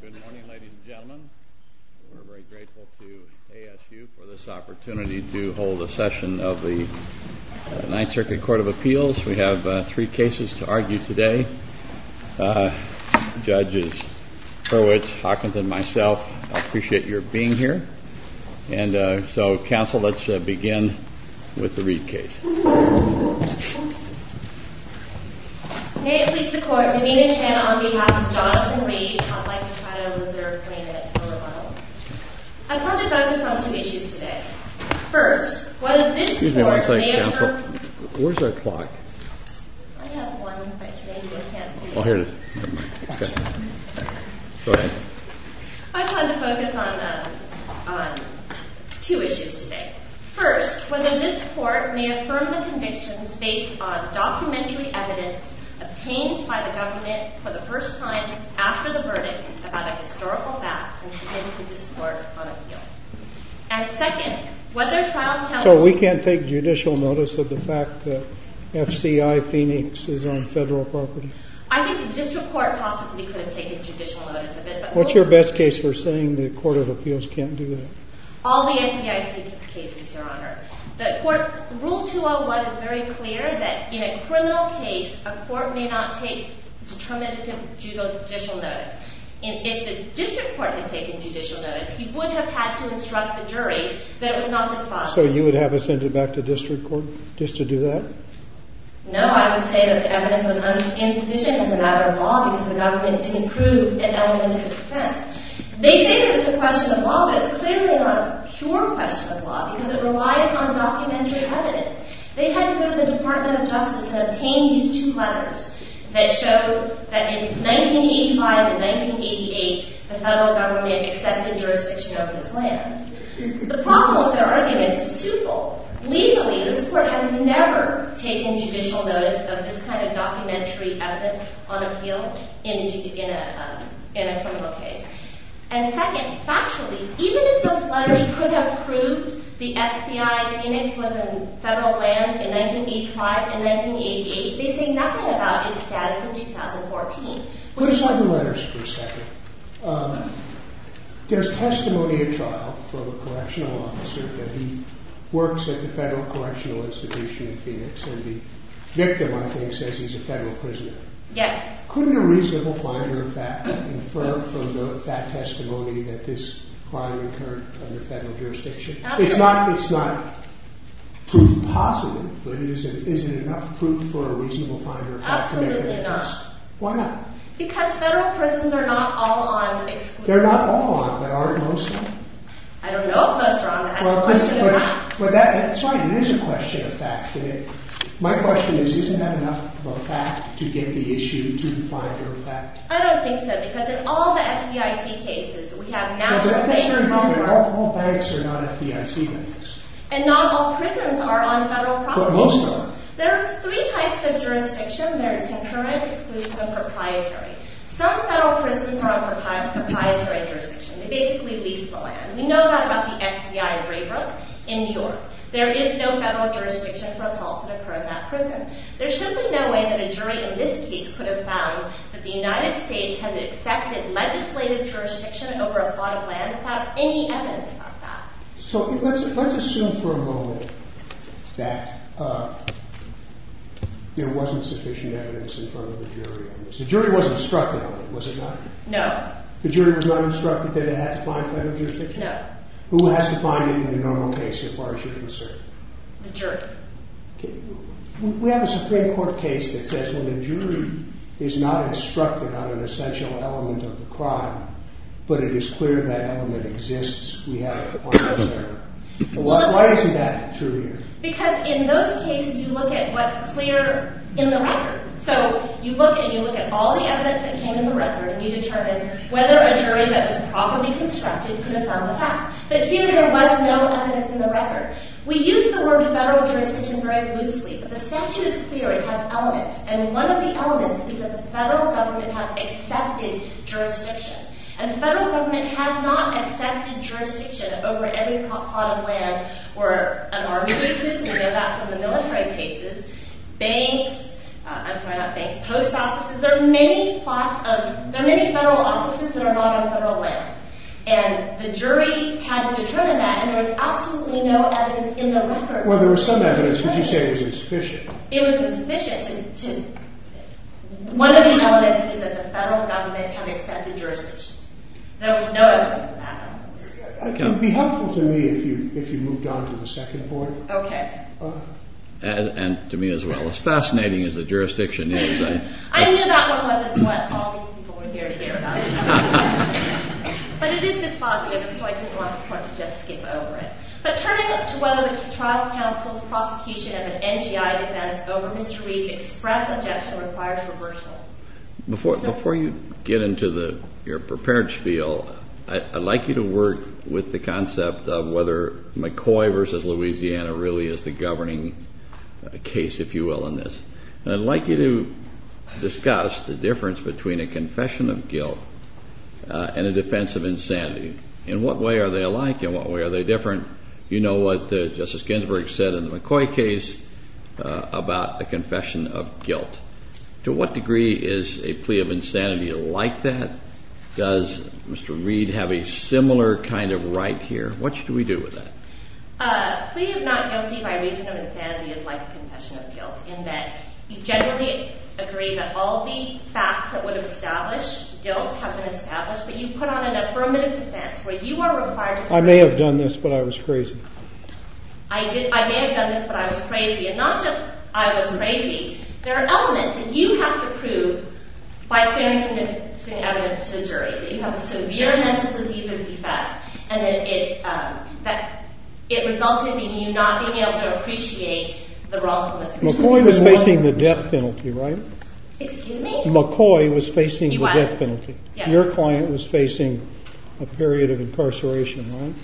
Good morning, ladies and gentlemen. We're very grateful to ASU for this opportunity to hold a session of the Ninth Circuit Court of Appeals. We have three cases to argue today. Judges Hurwitz, Hawkins, and myself appreciate your being here. And so, counsel, let's begin with the Read case. May it please the Court. Yamina Chen on behalf of Jonathan Read. I'd like to try to reserve 20 minutes for rebuttal. I'd like to focus on two issues today. First, what if this court made up of... Excuse me one second, counsel. Where's our clock? I have one, but maybe you can't see it. Oh, here it is. Never mind. Go ahead. I'd like to focus on two issues today. First, whether this court may affirm the convictions based on documentary evidence obtained by the government for the first time after the verdict about a historical fact and submit it to this court on appeal. And second, whether trial counsel... So we can't take judicial notice of the fact that FCI Phoenix is on federal property? I think the district court possibly could have taken judicial notice of it, but... What's your best case for saying the Court of Appeals can't do that? All the FBIC cases, Your Honor. The court... Rule 201 is very clear that in a criminal case, a court may not take determinative judicial notice. And if the district court had taken judicial notice, he would have had to instruct the jury that it was not possible. So you would have us send it back to district court just to do that? No, I would say that the evidence was insufficient as a matter of law because the government didn't prove an element of defense. They say that it's a question of law, but it's clearly not a pure question of law because it relies on documentary evidence. They had to go to the Department of Justice and obtain these two letters that show that in 1985 and 1988, the federal government accepted jurisdiction over this land. The problem with their arguments is twofold. Legally, this court has never taken judicial notice of this kind of documentary evidence on appeal in a criminal case. And second, factually, even if those letters could have proved the FCI Phoenix was in federal land in 1985 and 1988, they say nothing about its status in 2014. Put aside the letters for a second. There's testimony at trial from a correctional officer that he works at the Federal Correctional Institution in Phoenix. And the victim, I think, says he's a federal prisoner. Yes. Couldn't a reasonable finder of fact infer from that testimony that this crime occurred under federal jurisdiction? Absolutely. It's not proof positive, but is it enough proof for a reasonable finder of fact to make a defense? Absolutely enough. Why not? Because federal prisons are not all on exclusion. They're not all on, but are it mostly? I don't know if most are on, but that's a question of facts. Sorry, it is a question of facts, but my question is, isn't that enough of a fact to get the issue to the finder of fact? I don't think so, because in all the FDIC cases, we have national banks involved. All banks are not FDIC banks. And not all prisons are on federal property. But most are. There are three types of jurisdiction. There's concurrent, exclusive, and proprietary. Some federal prisons are on proprietary jurisdiction. They basically lease the land. We know that about the FCI in Raybrook in New York. There is no federal jurisdiction for assaults that occur in that prison. There's simply no way that a jury in this case could have found that the United States has accepted legislative jurisdiction over a plot of land without any evidence of that. So let's assume for a moment that there wasn't sufficient evidence in front of the jury on this. The jury wasn't instructed on it, was it not? No. The jury was not instructed that it had to find federal jurisdiction? No. Who has to find it in a normal case, as far as you're concerned? The jury. Okay. We have a Supreme Court case that says, well, the jury is not instructed on an essential element of the crime, but it is clear that element exists. Why is that true here? Because in those cases, you look at what's clear in the record. So you look at all the evidence that came in the record, and you determine whether a jury that's properly constructed could have found the fact. But here, there was no evidence in the record. We use the word federal jurisdiction very loosely, but the statute is clear. It has elements. And one of the elements is that the federal government has accepted jurisdiction. And the federal government has not accepted jurisdiction over every plot of land where an army loses. We know that from the military cases. Banks – I'm sorry, not banks – post offices. There are many plots of – there are many federal offices that are not on federal land. And the jury had to determine that, and there was absolutely no evidence in the record. Well, there was some evidence, but you said it was insufficient. It was insufficient to – one of the elements is that the federal government had accepted jurisdiction. There was no evidence of that. It would be helpful to me if you moved on to the second point. Okay. And to me as well. As fascinating as the jurisdiction is, I – I knew that one wasn't what all these people were here to hear about. But it is dispositive, and so I didn't want to just skip over it. But turning it to whether the trial counsel's prosecution of an NGI defense over Mr. Reed's express objection requires reversal. Well, before you get into the – your preparedness field, I'd like you to work with the concept of whether McCoy v. Louisiana really is the governing case, if you will, in this. And I'd like you to discuss the difference between a confession of guilt and a defense of insanity. In what way are they alike? In what way are they different? You know what Justice Ginsburg said in the McCoy case about a confession of guilt. To what degree is a plea of insanity like that? Does Mr. Reed have a similar kind of right here? What should we do with that? A plea of not guilty by reason of insanity is like a confession of guilt, in that you generally agree that all the facts that would establish guilt have been established, but you put on an affirmative defense where you are required to – I may have done this, but I was crazy. I may have done this, but I was crazy. And not just I was crazy. There are elements that you have to prove by fair and convincing evidence to a jury, that you have a severe mental disease or defect, and that it resulted in you not being able to appreciate the wrongfulness of the jury. McCoy was facing the death penalty, right? Excuse me? McCoy was facing the death penalty. He was, yes. Your client was facing a period of incarceration, right?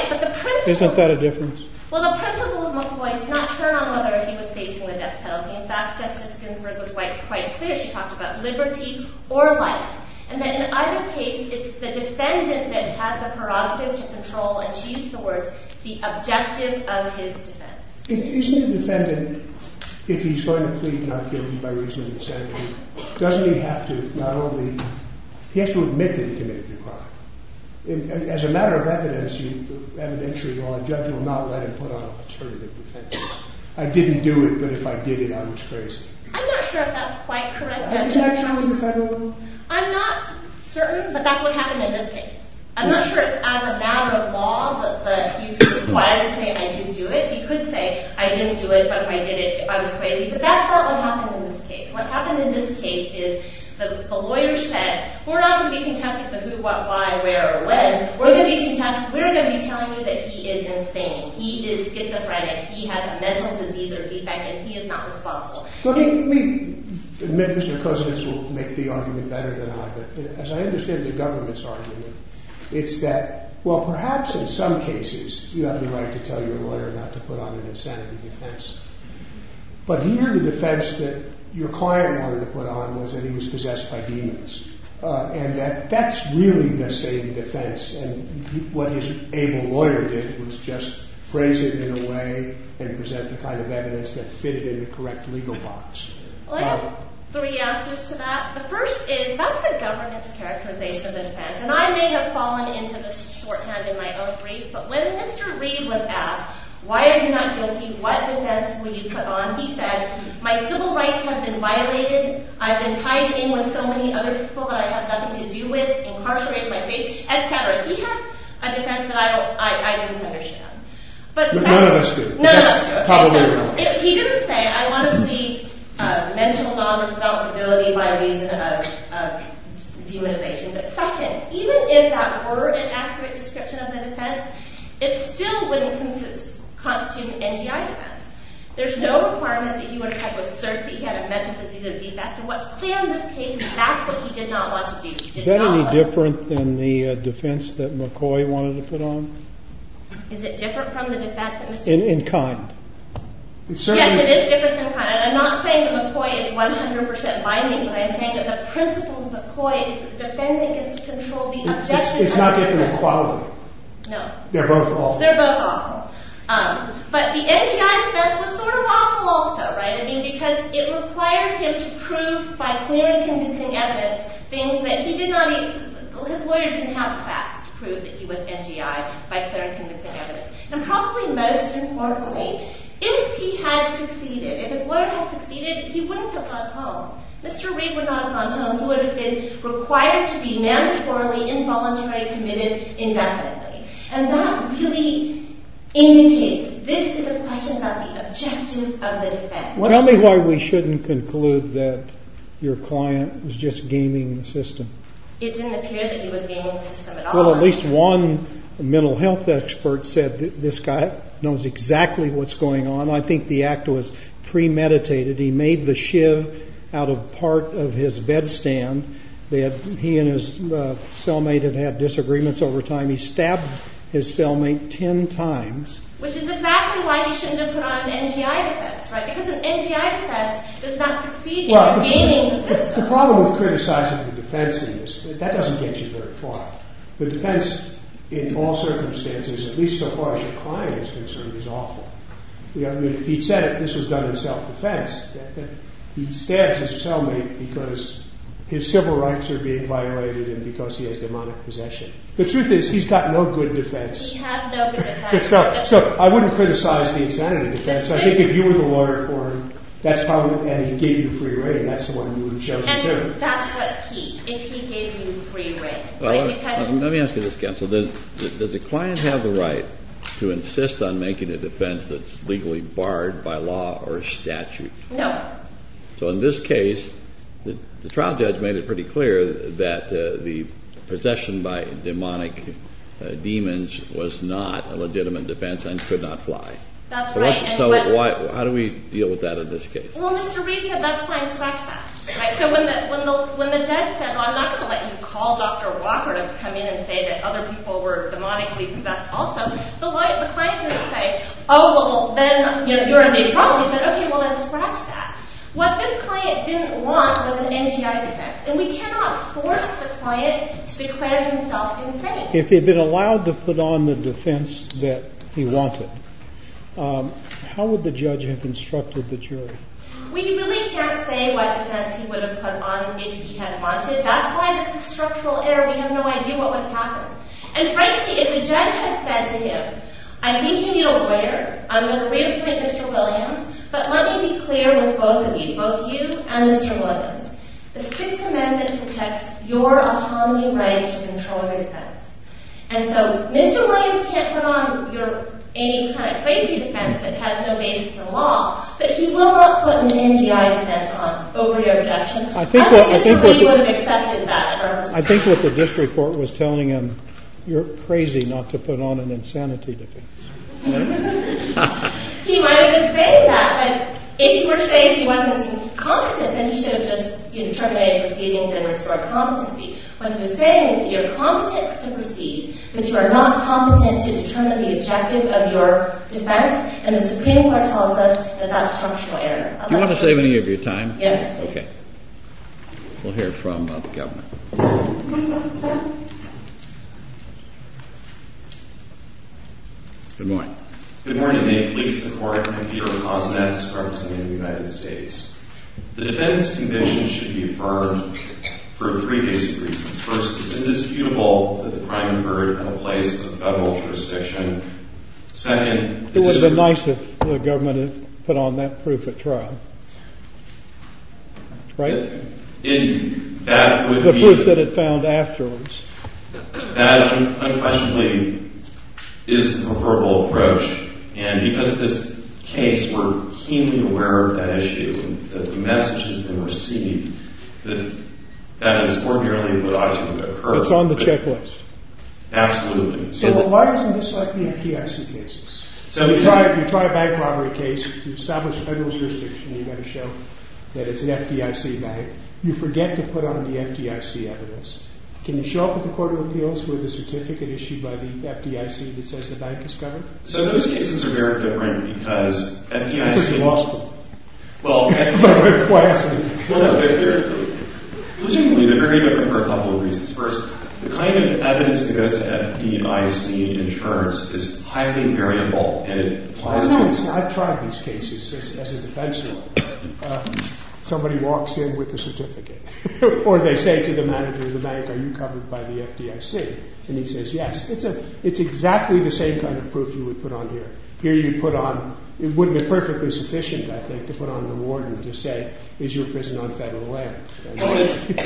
Right. But the principle – Isn't that a difference? Well, the principle of McCoy did not turn on whether he was facing the death penalty. In fact, Justice Ginsburg was quite clear. She talked about liberty or life. And that in either case, it's the defendant that has the prerogative to control, and she used the words, the objective of his defense. Isn't the defendant, if he's going to plead not guilty by reason of insanity, doesn't he have to not only – he has to admit that he committed the crime. As a matter of evidence, evidentiary law, a judge will not let him put on an alternative defense. I didn't do it, but if I did it, I was crazy. I'm not sure if that's quite correct evidence. Have you tried that in federal law? I'm not certain, but that's what happened in this case. I'm not sure if as a matter of law, but he's required to say, I didn't do it. He could say, I didn't do it, but if I did it, I was crazy. But that's not what happened in this case. What happened in this case is the lawyer said, we're not going to be contesting the who, what, why, where, or when. We're going to be telling you that he is insane. He is schizophrenic. He has a mental disease or defect, and he is not responsible. Let me – Mr. Kozinets will make the argument better than I, but as I understand the government's argument, it's that, well, perhaps in some cases you have the right to tell your lawyer not to put on an insanity defense. But here the defense that your client wanted to put on was that he was possessed by demons. And that that's really the same defense. And what his able lawyer did was just phrase it in a way and present the kind of evidence that fitted in the correct legal box. I have three answers to that. The first is, that's the government's characterization of the defense. And I may have fallen into this shorthand in my own brief, but when Mr. Reed was asked, why are you not guilty, what defense will you put on, he said, my civil rights have been violated. I've been tied in with so many other people that I have nothing to do with, incarcerated my baby, et cetera. He had a defense that I didn't understand. But second – No, no, that's good. No, no, that's good. He didn't say, I want to be mentally non-responsible by reason of demonization. But second, even if that were an accurate description of the defense, it still wouldn't constitute an NGI defense. There's no requirement that he would have a cert that he had a mental disease that would be effective. What's clear in this case is that's what he did not want to do. Is that any different than the defense that McCoy wanted to put on? Is it different from the defense that Mr. Reed put on? In kind. Yes, it is different in kind. And I'm not saying that McCoy is 100% binding, but I am saying that the principle that McCoy is defending his control, the objection to his control – It's not different in quality. No. They're both awful. They're both awful. But the NGI defense was sort of awful also, right? I mean, because it required him to prove by clear and convincing evidence things that he did not even – his lawyer didn't have the facts to prove that he was NGI by clear and convincing evidence. And probably most importantly, if he had succeeded, if his lawyer had succeeded, he wouldn't have gone home. Mr. Reed would not have gone home. He would have been required to be mandatorily, involuntarily committed indefinitely. And that really indicates this is a question about the objective of the defense. Tell me why we shouldn't conclude that your client was just gaming the system. It didn't appear that he was gaming the system at all. Well, at least one mental health expert said this guy knows exactly what's going on. I think the act was premeditated. He made the shiv out of part of his bed stand. He and his cellmate had had disagreements over time. He stabbed his cellmate 10 times. Which is exactly why you shouldn't have put on NGI defense, right? Because an NGI defense does not succeed in gaming the system. The problem with criticizing the defense in this, that doesn't get you very far. The defense in all circumstances, at least so far as your client is concerned, is awful. He said this was done in self-defense. He stabs his cellmate because his civil rights are being violated and because he has demonic possession. The truth is he's got no good defense. He has no good defense. So I wouldn't criticize the executive defense. I think if you were the lawyer for him and he gave you free reign, that's the one you would judge. And that's what's key, if he gave you free reign. Let me ask you this, counsel. Does the client have the right to insist on making a defense that's legally barred by law or statute? No. So in this case, the trial judge made it pretty clear that the possession by demonic demons was not a legitimate defense and could not fly. That's right. So how do we deal with that in this case? Well, Mr. Reed said that's fine, scratch that. So when the judge said, well, I'm not going to let you call Dr. Walker to come in and say that other people were demonically possessed also, the client didn't say, oh, well, then you're in big trouble. He said, OK, well, let's scratch that. What this client didn't want was an NGI defense. And we cannot force the client to declare himself insane. If he had been allowed to put on the defense that he wanted, how would the judge have instructed the jury? We really can't say what defense he would have put on if he had wanted. That's why this is structural error. We have no idea what would have happened. And frankly, if the judge had said to him, I think you need a lawyer. I'm going to reappoint Mr. Williams. But let me be clear with both of you, both you and Mr. Williams. The Sixth Amendment protects your autonomy right to control your defense. And so Mr. Williams can't put on any kind of crazy defense that has no basis in law, but he will not put an NGI defense on over your objection. I think Mr. Reed would have accepted that. I think what the district court was telling him, you're crazy not to put on an insanity defense. He might have been saying that. But if you were saying he wasn't competent, then you should have just terminated proceedings and restored competency. What he was saying is that you're competent to proceed, but you are not competent to determine the objective of your defense. And the Supreme Court tells us that that's structural error. Do you want to save any of your time? Yes. Okay. We'll hear from the government. Good morning. Good morning. May it please the Court, I'm Peter Kosnetz, representative of the United States. The defendant's conviction should be affirmed for three basic reasons. First, it's indisputable that the crime occurred at a place of federal jurisdiction. Second, the district court— It would have been nice if the government had put on that proof at trial. Right? That would be— The proof that it found afterwards. That unquestionably is the preferable approach. And because of this case, we're keenly aware of that issue. The message has been received that that is ordinarily what ought to have occurred. It's on the checklist. Absolutely. So why isn't this like the FDIC cases? You try a bank robbery case. You establish federal jurisdiction. You've got to show that it's an FDIC bank. You forget to put on the FDIC evidence. Can you show up at the Court of Appeals with a certificate issued by the FDIC that says the bank is covered? So those cases are very different because FDIC— Because you lost them. Well, FDIC— Why ask me? No, no. They're very different for a couple of reasons. First, the kind of evidence that goes to FDIC insurance is highly variable, and it applies to— I know. I've tried these cases as a defense lawyer. Somebody walks in with a certificate, or they say to the manager of the bank, Are you covered by the FDIC? And he says, Yes. It's exactly the same kind of proof you would put on here. Here you put on—it wouldn't be perfectly sufficient, I think, to put on the warden to say, Is your prison on federal land?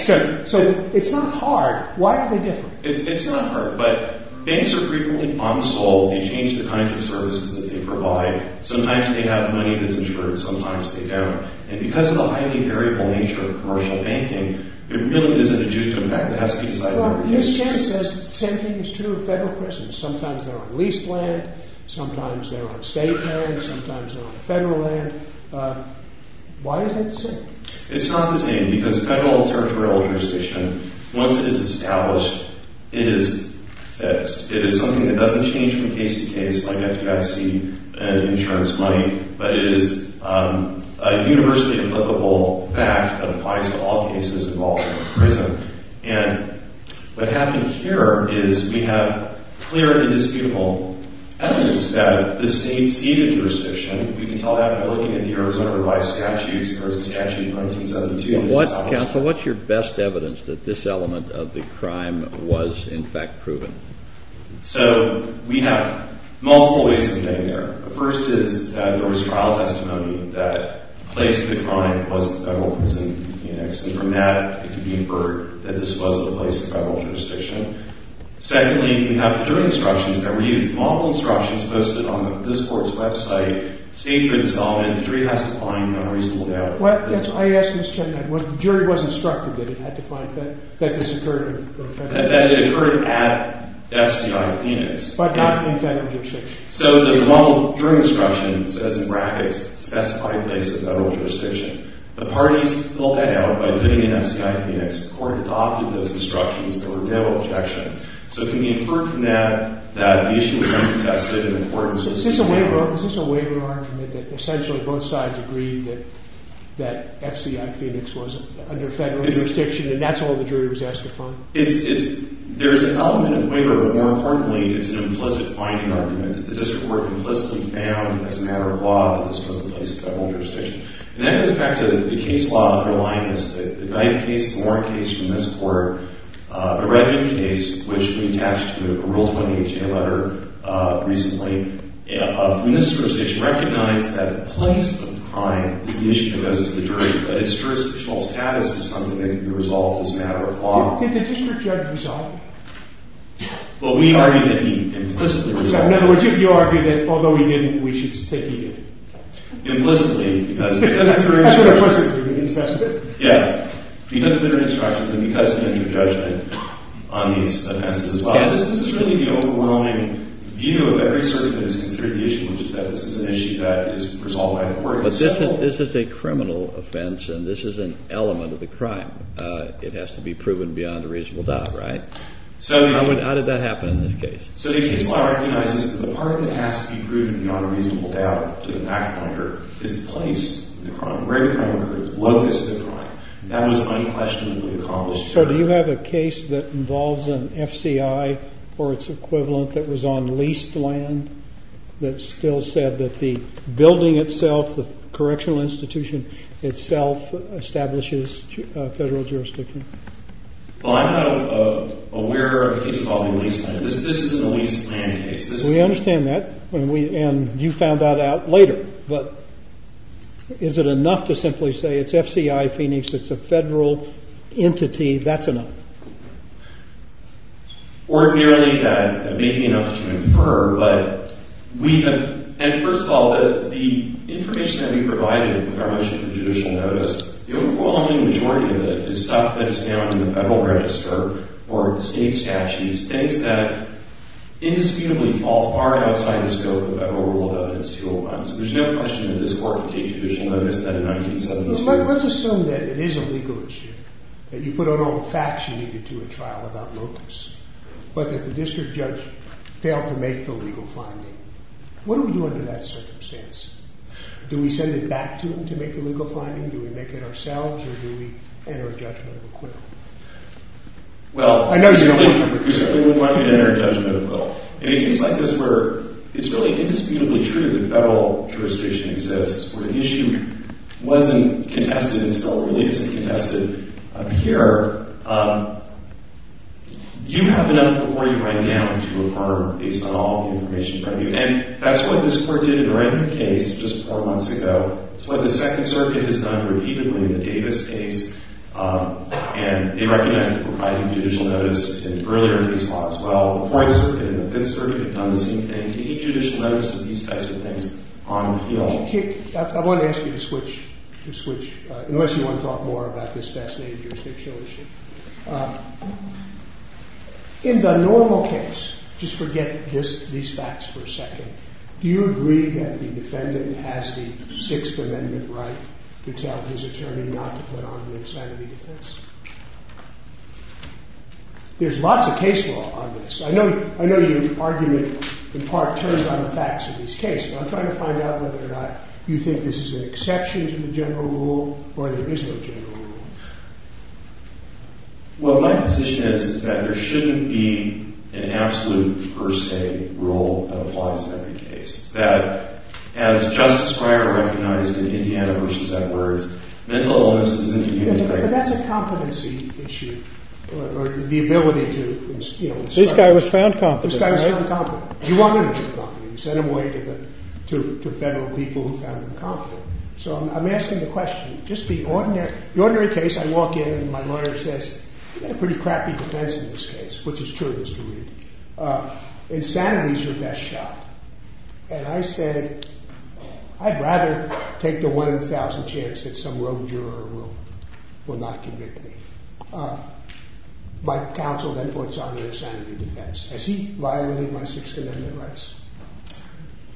So it's not hard. Why are they different? It's not hard, but banks are frequently unsold. They change the kinds of services that they provide. Sometimes they have money that's insured. Sometimes they don't. And because of the highly variable nature of commercial banking, it really isn't due to the fact that it has to be decided by the FDIC. Well, his case says the same thing is true of federal prisons. Sometimes they're on leased land. Sometimes they're on state land. Sometimes they're on federal land. Why is that the same? It's not the same because federal territorial jurisdiction, once it is established, it is fixed. It is something that doesn't change from case to case, like FDIC and insurance money, but it is a universally applicable fact that applies to all cases involving a prison. And what happened here is we have clear and indisputable evidence that the state ceded jurisdiction. We can tell that by looking at the Arizona Revised Statutes versus statute 1972. Counsel, what's your best evidence that this element of the crime was, in fact, proven? So we have multiple ways of getting there. The first is that there was trial testimony that the place of the crime was the federal prison. And from that, it can be inferred that this was the place of federal jurisdiction. Secondly, we have the jury instructions that were used. These are multiple instructions posted on this court's website. The jury has to find no reasonable doubt. Well, I asked Mr. Chen that. The jury was instructed that it had to find that this occurred in federal jurisdiction. That it occurred at FCI Phoenix. But not in federal jurisdiction. So the model jury instruction says in brackets, specified place of federal jurisdiction. The parties pulled that out by putting it in FCI Phoenix. The court adopted those instructions. There were no objections. So it can be inferred from that that the issue was uncontested. And the court was able to find it. Is this a waiver argument that essentially both sides agreed that FCI Phoenix was under federal jurisdiction? And that's why the jury was asked to find it? There is an element of waiver. But more importantly, it's an implicit finding argument that the district court implicitly found as a matter of law that this was a place of federal jurisdiction. And that goes back to the case law of Herlinus. The Dyke case, the Warren case from this court, the Redmond case, which we attached to the Rule 20HA letter recently, when this jurisdiction recognized that the place of crime is the issue that goes to the jury. But its jurisdictional status is something that can be resolved as a matter of law. Did the district judge resolve it? Well, we argue that he implicitly resolved it. So in other words, you argue that although he didn't, we should take it? Implicitly. Yes. Because of their instructions and because of their judgment on these offenses as well. This is really the overwhelming view of every circuit that has considered the issue, which is that this is an issue that is resolved by the court. But this is a criminal offense, and this is an element of the crime. It has to be proven beyond a reasonable doubt, right? How did that happen in this case? So the case law recognizes that the part that has to be proven beyond a reasonable doubt to the fact finder is the place of the crime, where the crime occurred, the locus of the crime. That was unquestionably accomplished. So do you have a case that involves an FCI or its equivalent that was on leased land that still said that the building itself, the correctional institution itself, establishes federal jurisdiction? Well, I'm not aware of a case involving leased land. This isn't a leased land case. We understand that. And you found that out later. But is it enough to simply say it's FCI Phoenix, it's a federal entity, that's enough? Ordinarily, that may be enough to infer. But we have – and first of all, the information that we provided with our motion for judicial notice, the overwhelming majority of it is stuff that is down in the federal register or state statutes, things that indisputably fall far outside the scope of the Federal Rule of Evidence 201. So there's no question that this court could take judicial notice then in 1972. Let's assume that it is a legal issue, that you put out all the facts you needed to a trial about locus, but that the district judge failed to make the legal finding. What do we do under that circumstance? Do we send it back to him to make the legal finding, do we make it ourselves, or do we enter a judgment of acquittal? Well – I know he's going to – He's certainly going to want me to enter a judgment of acquittal. In cases like this where it's really indisputably true that federal jurisdiction exists, where the issue wasn't contested and still relates to be contested up here, you have enough before you right now to affirm based on all the information from you. And that's what this court did in the Randolph case just four months ago. It's what the Second Circuit has done repeatedly in the Davis case, and they recognized that we're providing judicial notice in earlier in these laws. Well, the Fourth Circuit and the Fifth Circuit have done the same thing, taking judicial notice of these types of things on appeal. I want to ask you to switch – unless you want to talk more about this fascinating jurisdictional issue. In the normal case, just forget these facts for a second, do you agree that the defendant has the Sixth Amendment right to tell his attorney not to put on the insanity defense? There's lots of case law on this. I know your argument in part turns on the facts of this case, but I'm trying to find out whether or not you think this is an exception to the general rule or there is no general rule. Well, my position is that there shouldn't be an absolute per se rule that applies to every case. That as Justice Breyer recognized in Indiana versus Edwards, mental illness is a human right. But that's a competency issue, or the ability to – This guy was found competent, right? This guy was found competent. You wanted him to be competent. You sent him away to federal people who found him competent. So I'm asking the question, just the ordinary case, I walk in and my lawyer says, you've got a pretty crappy defense in this case, which is true of this jury. Insanity is your best shot. And I said, I'd rather take the one-in-a-thousand chance that some rogue juror will not convict me. My counsel then puts on the insanity defense. Has he violated my Sixth Amendment rights?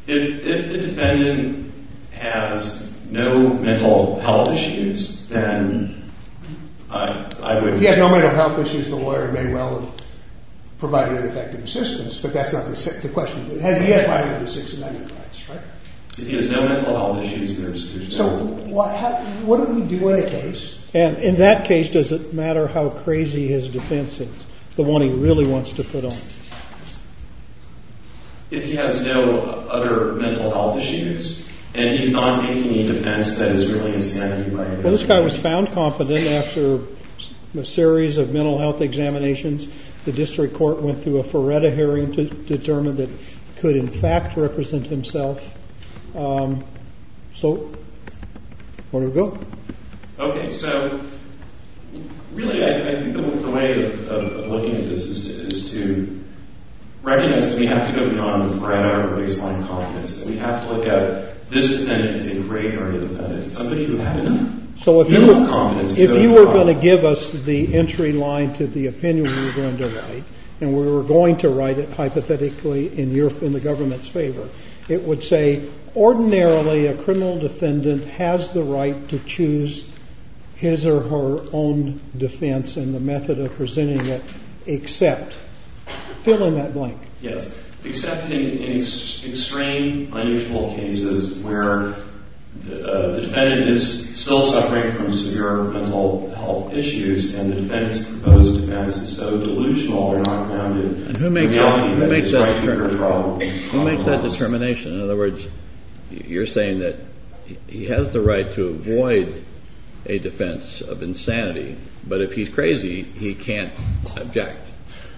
If the defendant has no mental health issues, then I would – If he has no mental health issues, the lawyer may well have provided ineffective assistance, but that's not the question. He has violated the Sixth Amendment rights, right? If he has no mental health issues, there's – So what do we do in a case – And in that case, does it matter how crazy his defense is, the one he really wants to put on? If he has no other mental health issues, and he's not making a defense that is really insanity – Well, this guy was found competent after a series of mental health examinations. The district court went through a Feretta hearing to determine that he could in fact represent himself. So, where do we go? Okay, so really, I think the way of looking at this is to recognize that we have to go beyond Feretta or baseline competence, and we have to look at this defendant as a great early defendant, somebody who had enough – If you were going to give us the entry line to the opinion we were going to write, and we were going to write it hypothetically in the government's favor, it would say, ordinarily, a criminal defendant has the right to choose his or her own defense in the method of presenting it, except – Fill in that blank. Yes. Except in extreme unusual cases where the defendant is still suffering from severe mental health issues, and the defendant's proposed defense is so delusional or not grounded – Who makes that determination? In other words, you're saying that he has the right to avoid a defense of insanity, but if he's crazy, he can't object.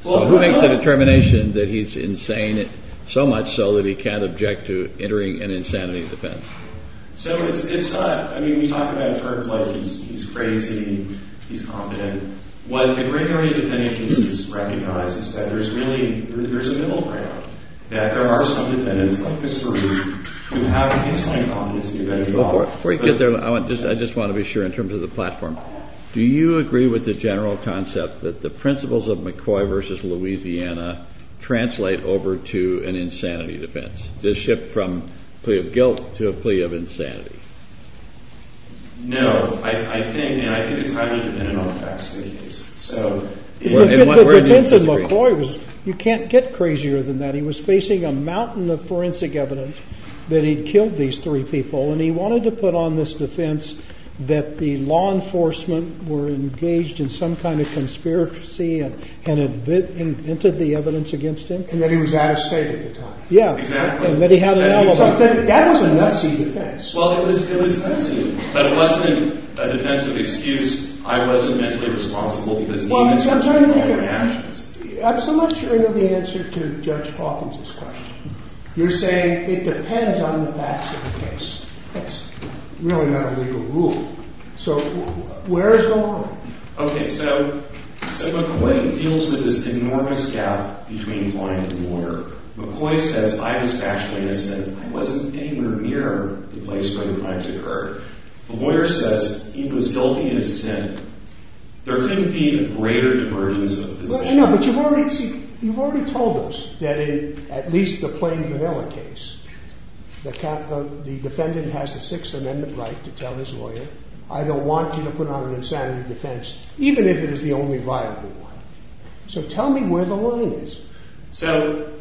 Who makes the determination that he's insane so much so that he can't object to entering an insanity defense? So it's not – I mean, we talk about terms like he's crazy, he's confident. What the great early defendants recognize is that there's really – there's a middle ground, that there are some defendants, like Mr. Ruth, who have a baseline competency – Before you get there, I just want to be sure in terms of the platform. Do you agree with the general concept that the principles of McCoy v. Louisiana translate over to an insanity defense? Does it shift from a plea of guilt to a plea of insanity? No. I think it's highly dependent on the facts of the case. So – The defense of McCoy was – you can't get crazier than that. He was facing a mountain of forensic evidence that he'd killed these three people, and he wanted to put on this defense that the law enforcement were engaged in some kind of conspiracy and had invented the evidence against him. And that he was out of state at the time. Yeah. Exactly. And that he had an alibi. That was a messy defense. Well, it was messy, but it wasn't a defensive excuse. I wasn't mentally responsible because he didn't take any actions. I'm somewhat sure you know the answer to Judge Hawkins' question. You're saying it depends on the facts of the case. That's really not a legal rule. So where is the line? Okay, so McCoy deals with this enormous gap between client and lawyer. McCoy says, I was actually innocent. I wasn't anywhere near the place where the crimes occurred. The lawyer says he was guilty in his sin. There couldn't be a greater divergence of position. No, but you've already told us that in at least the Plain Canela case, the defendant has a Sixth Amendment right to tell his lawyer, I don't want you to put on an insanity defense, even if it is the only viable one. So tell me where the line is. So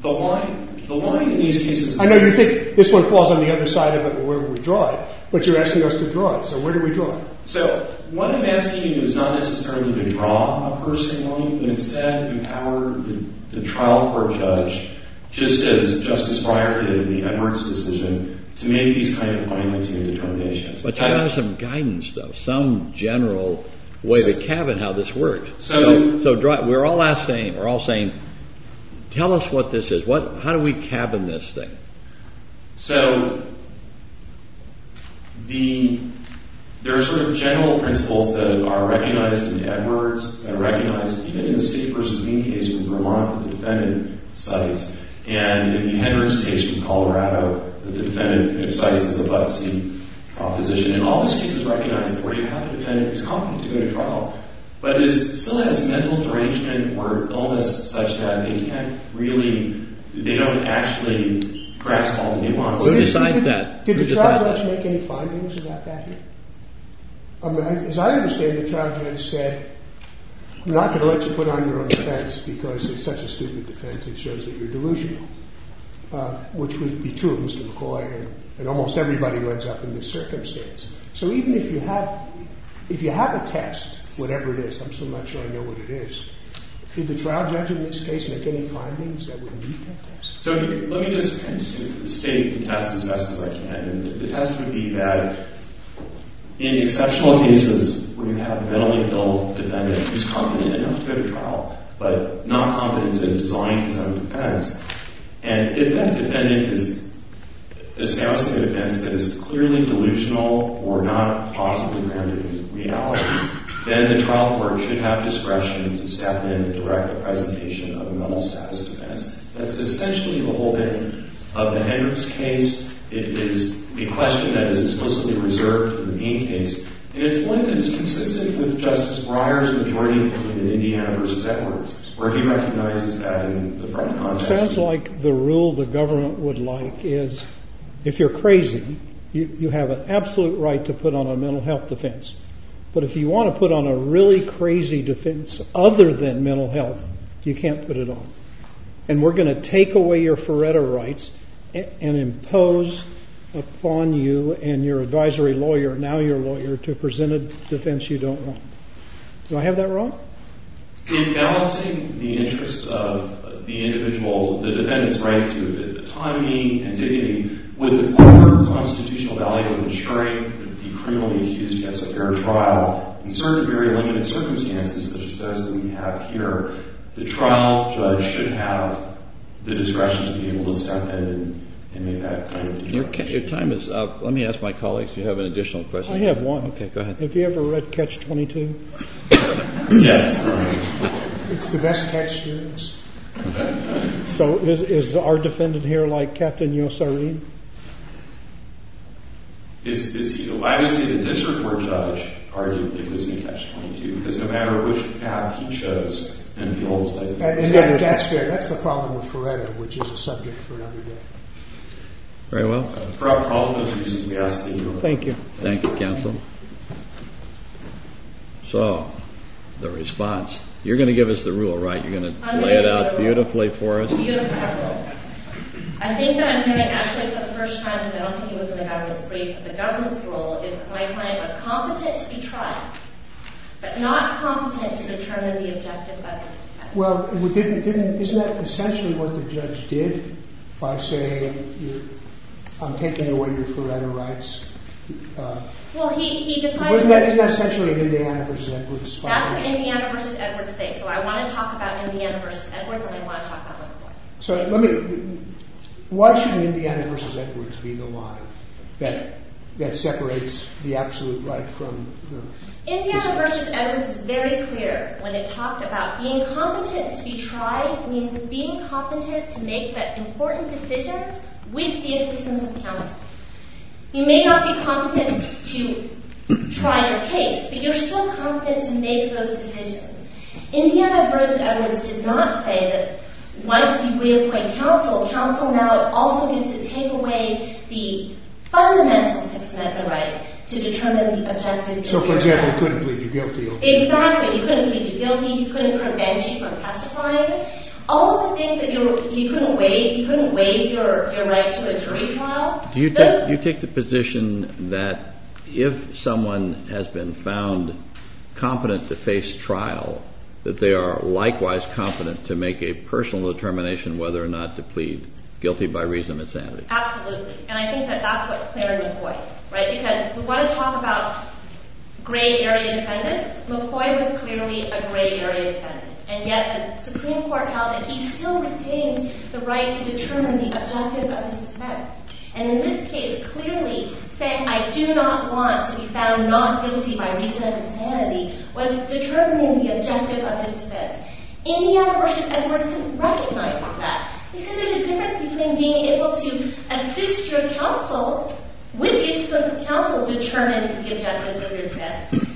the line in these cases... I know you think this one falls on the other side of it and where would we draw it, but you're asking us to draw it. So where do we draw it? So what I'm asking you is not necessarily to draw a person, but instead empower the trial court judge just as Justice Breyer did in the Edwards decision to make these kind of final determinations. But you've got to have some guidance, though, some general way to cabin how this works. So we're all saying, tell us what this is. How do we cabin this thing? So there are sort of general principles that are recognized in Edwards, that are recognized even in the State v. Mean case in Vermont with the defendant in Cites, and in the Edwards case in Colorado with the defendant in Cites as a but-see proposition. And all those cases recognize that where you have a defendant who's competent to go to trial, but still has mental derangement or illness such that they can't really... they don't actually grasp all the nuances. Did the trial judge make any findings about that here? As I understand it, the trial judge said, I'm not going to let you put on your own defense because it's such a stupid defense. It shows that you're delusional, which would be true of Mr. McCoy, and almost everybody runs up in this circumstance. So even if you have a test, whatever it is, I'm still not sure I know what it is, did the trial judge in this case make any findings that would meet that test? So let me just state the test as best as I can. The test would be that in exceptional cases where you have a mentally ill defendant who's competent enough to go to trial, but not competent in designing his own defense, and if that defendant is espousing a defense that is clearly delusional or not positively grounded in reality, then the trial court should have discretion to step in and direct the presentation of a mental status defense. That's essentially the whole thing of the Hendrix case. It is a question that is explicitly reserved for the main case, and it's one that is consistent with Justice Breyer's majority opinion in Indiana v. Edwards, where he recognizes that in the front context. It sounds like the rule the government would like is if you're crazy, you have an absolute right to put on a mental health defense. But if you want to put on a really crazy defense other than mental health, you can't put it on. And we're going to take away your Faretto rights and impose upon you and your advisory lawyer, now your lawyer, to present a defense you don't want. Do I have that wrong? In balancing the interests of the individual, the defendant's rights, the timing and dignity with the proper constitutional value of ensuring the criminally accused gets a fair trial, in certain very limited circumstances, such as those that we have here, the trial judge should have the discretion to be able to step in and make that kind of decision. Your time is up. Let me ask my colleagues, if you have an additional question. I have one. Okay, go ahead. Have you ever read Catch-22? Yes. It's the best catch series. So is our defendant here like Captain Yossarin? Why was he the district court judge? Arguably, it was in Catch-22, because no matter which path he chose... And that's the problem with Faretto, which is a subject for another day. Very well. Thank you. Thank you, counsel. So, the response. You're going to give us the rule, right? You're going to lay it out beautifully for us? Beautiful. I think that I'm going to actually, for the first time, and I don't think it was in the government's brief, the government's rule is that my client was competent to be tried, but not competent to determine the objective of his defense. Well, isn't that essentially what the judge did, by saying, I'm taking away your Faretto rights? Well, he decided... Isn't that essentially Indiana v. Edwards? That's an Indiana v. Edwards thing, so I want to talk about Indiana v. Edwards, and I want to talk about Liverpool. So, let me... Why should Indiana v. Edwards be the lie that separates the absolute right from the... Indiana v. Edwards is very clear when it talked about being competent to be tried means being competent to make the important decisions with the assistance of counsel. You may not be competent to try your case, but you're still competent to make those decisions. Indiana v. Edwards did not say that once you re-appoint counsel, counsel now also gets to take away the fundamental system at the right to determine the objective... So, for example, you couldn't plead the Guilfield case? Exactly. You couldn't plead guilty. You couldn't prevent you from testifying. All of the things that you couldn't waive, you couldn't waive your rights to the jury trial... Do you take the position that if someone has been found competent to face trial, that they are likewise competent to make a personal determination whether or not to plead guilty by reason of insanity? Absolutely. And I think that that's what's clear to avoid. Because if we want to talk about gray area defendants, McCoy was clearly a gray area defendant. And yet the Supreme Court held that he still retained the right to determine the objective of his defense. And in this case, clearly, saying, I do not want to be found not guilty by reason of insanity was determining the objective of his defense. Indiana v. Edwards recognizes that. They said there's a difference between being able to assist your counsel with the assistance of counsel determining the objectives of your defense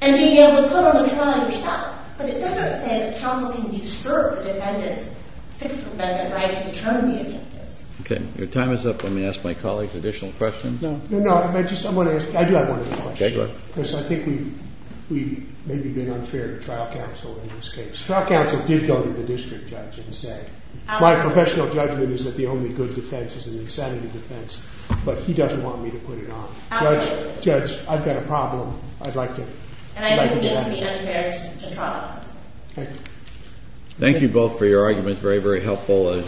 and being able to put on the trial yourself. But it doesn't say that counsel can disturb the defendant's fixed amendment right to determine the objectives. Okay. Your time is up. Let me ask my colleague an additional question. No, no. I just want to ask... I do have one other question. Okay, go ahead. Because I think we've maybe been unfair to trial counsel in this case. Trial counsel did go to the district judge and say, my professional judgment is that the only good defense is an insanity defense, but he doesn't want me to put it on. Judge, judge, I've got a problem. I'd like to... And I think it would be unfair to trial counsel. Okay. Thank you both for your arguments. Very, very helpful. As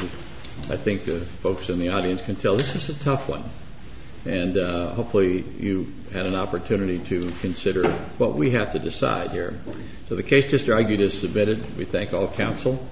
I think the folks in the audience can tell, this is a tough one. And hopefully you had an opportunity to consider what we have to decide here. So the case just argued is submitted. We thank all counsel.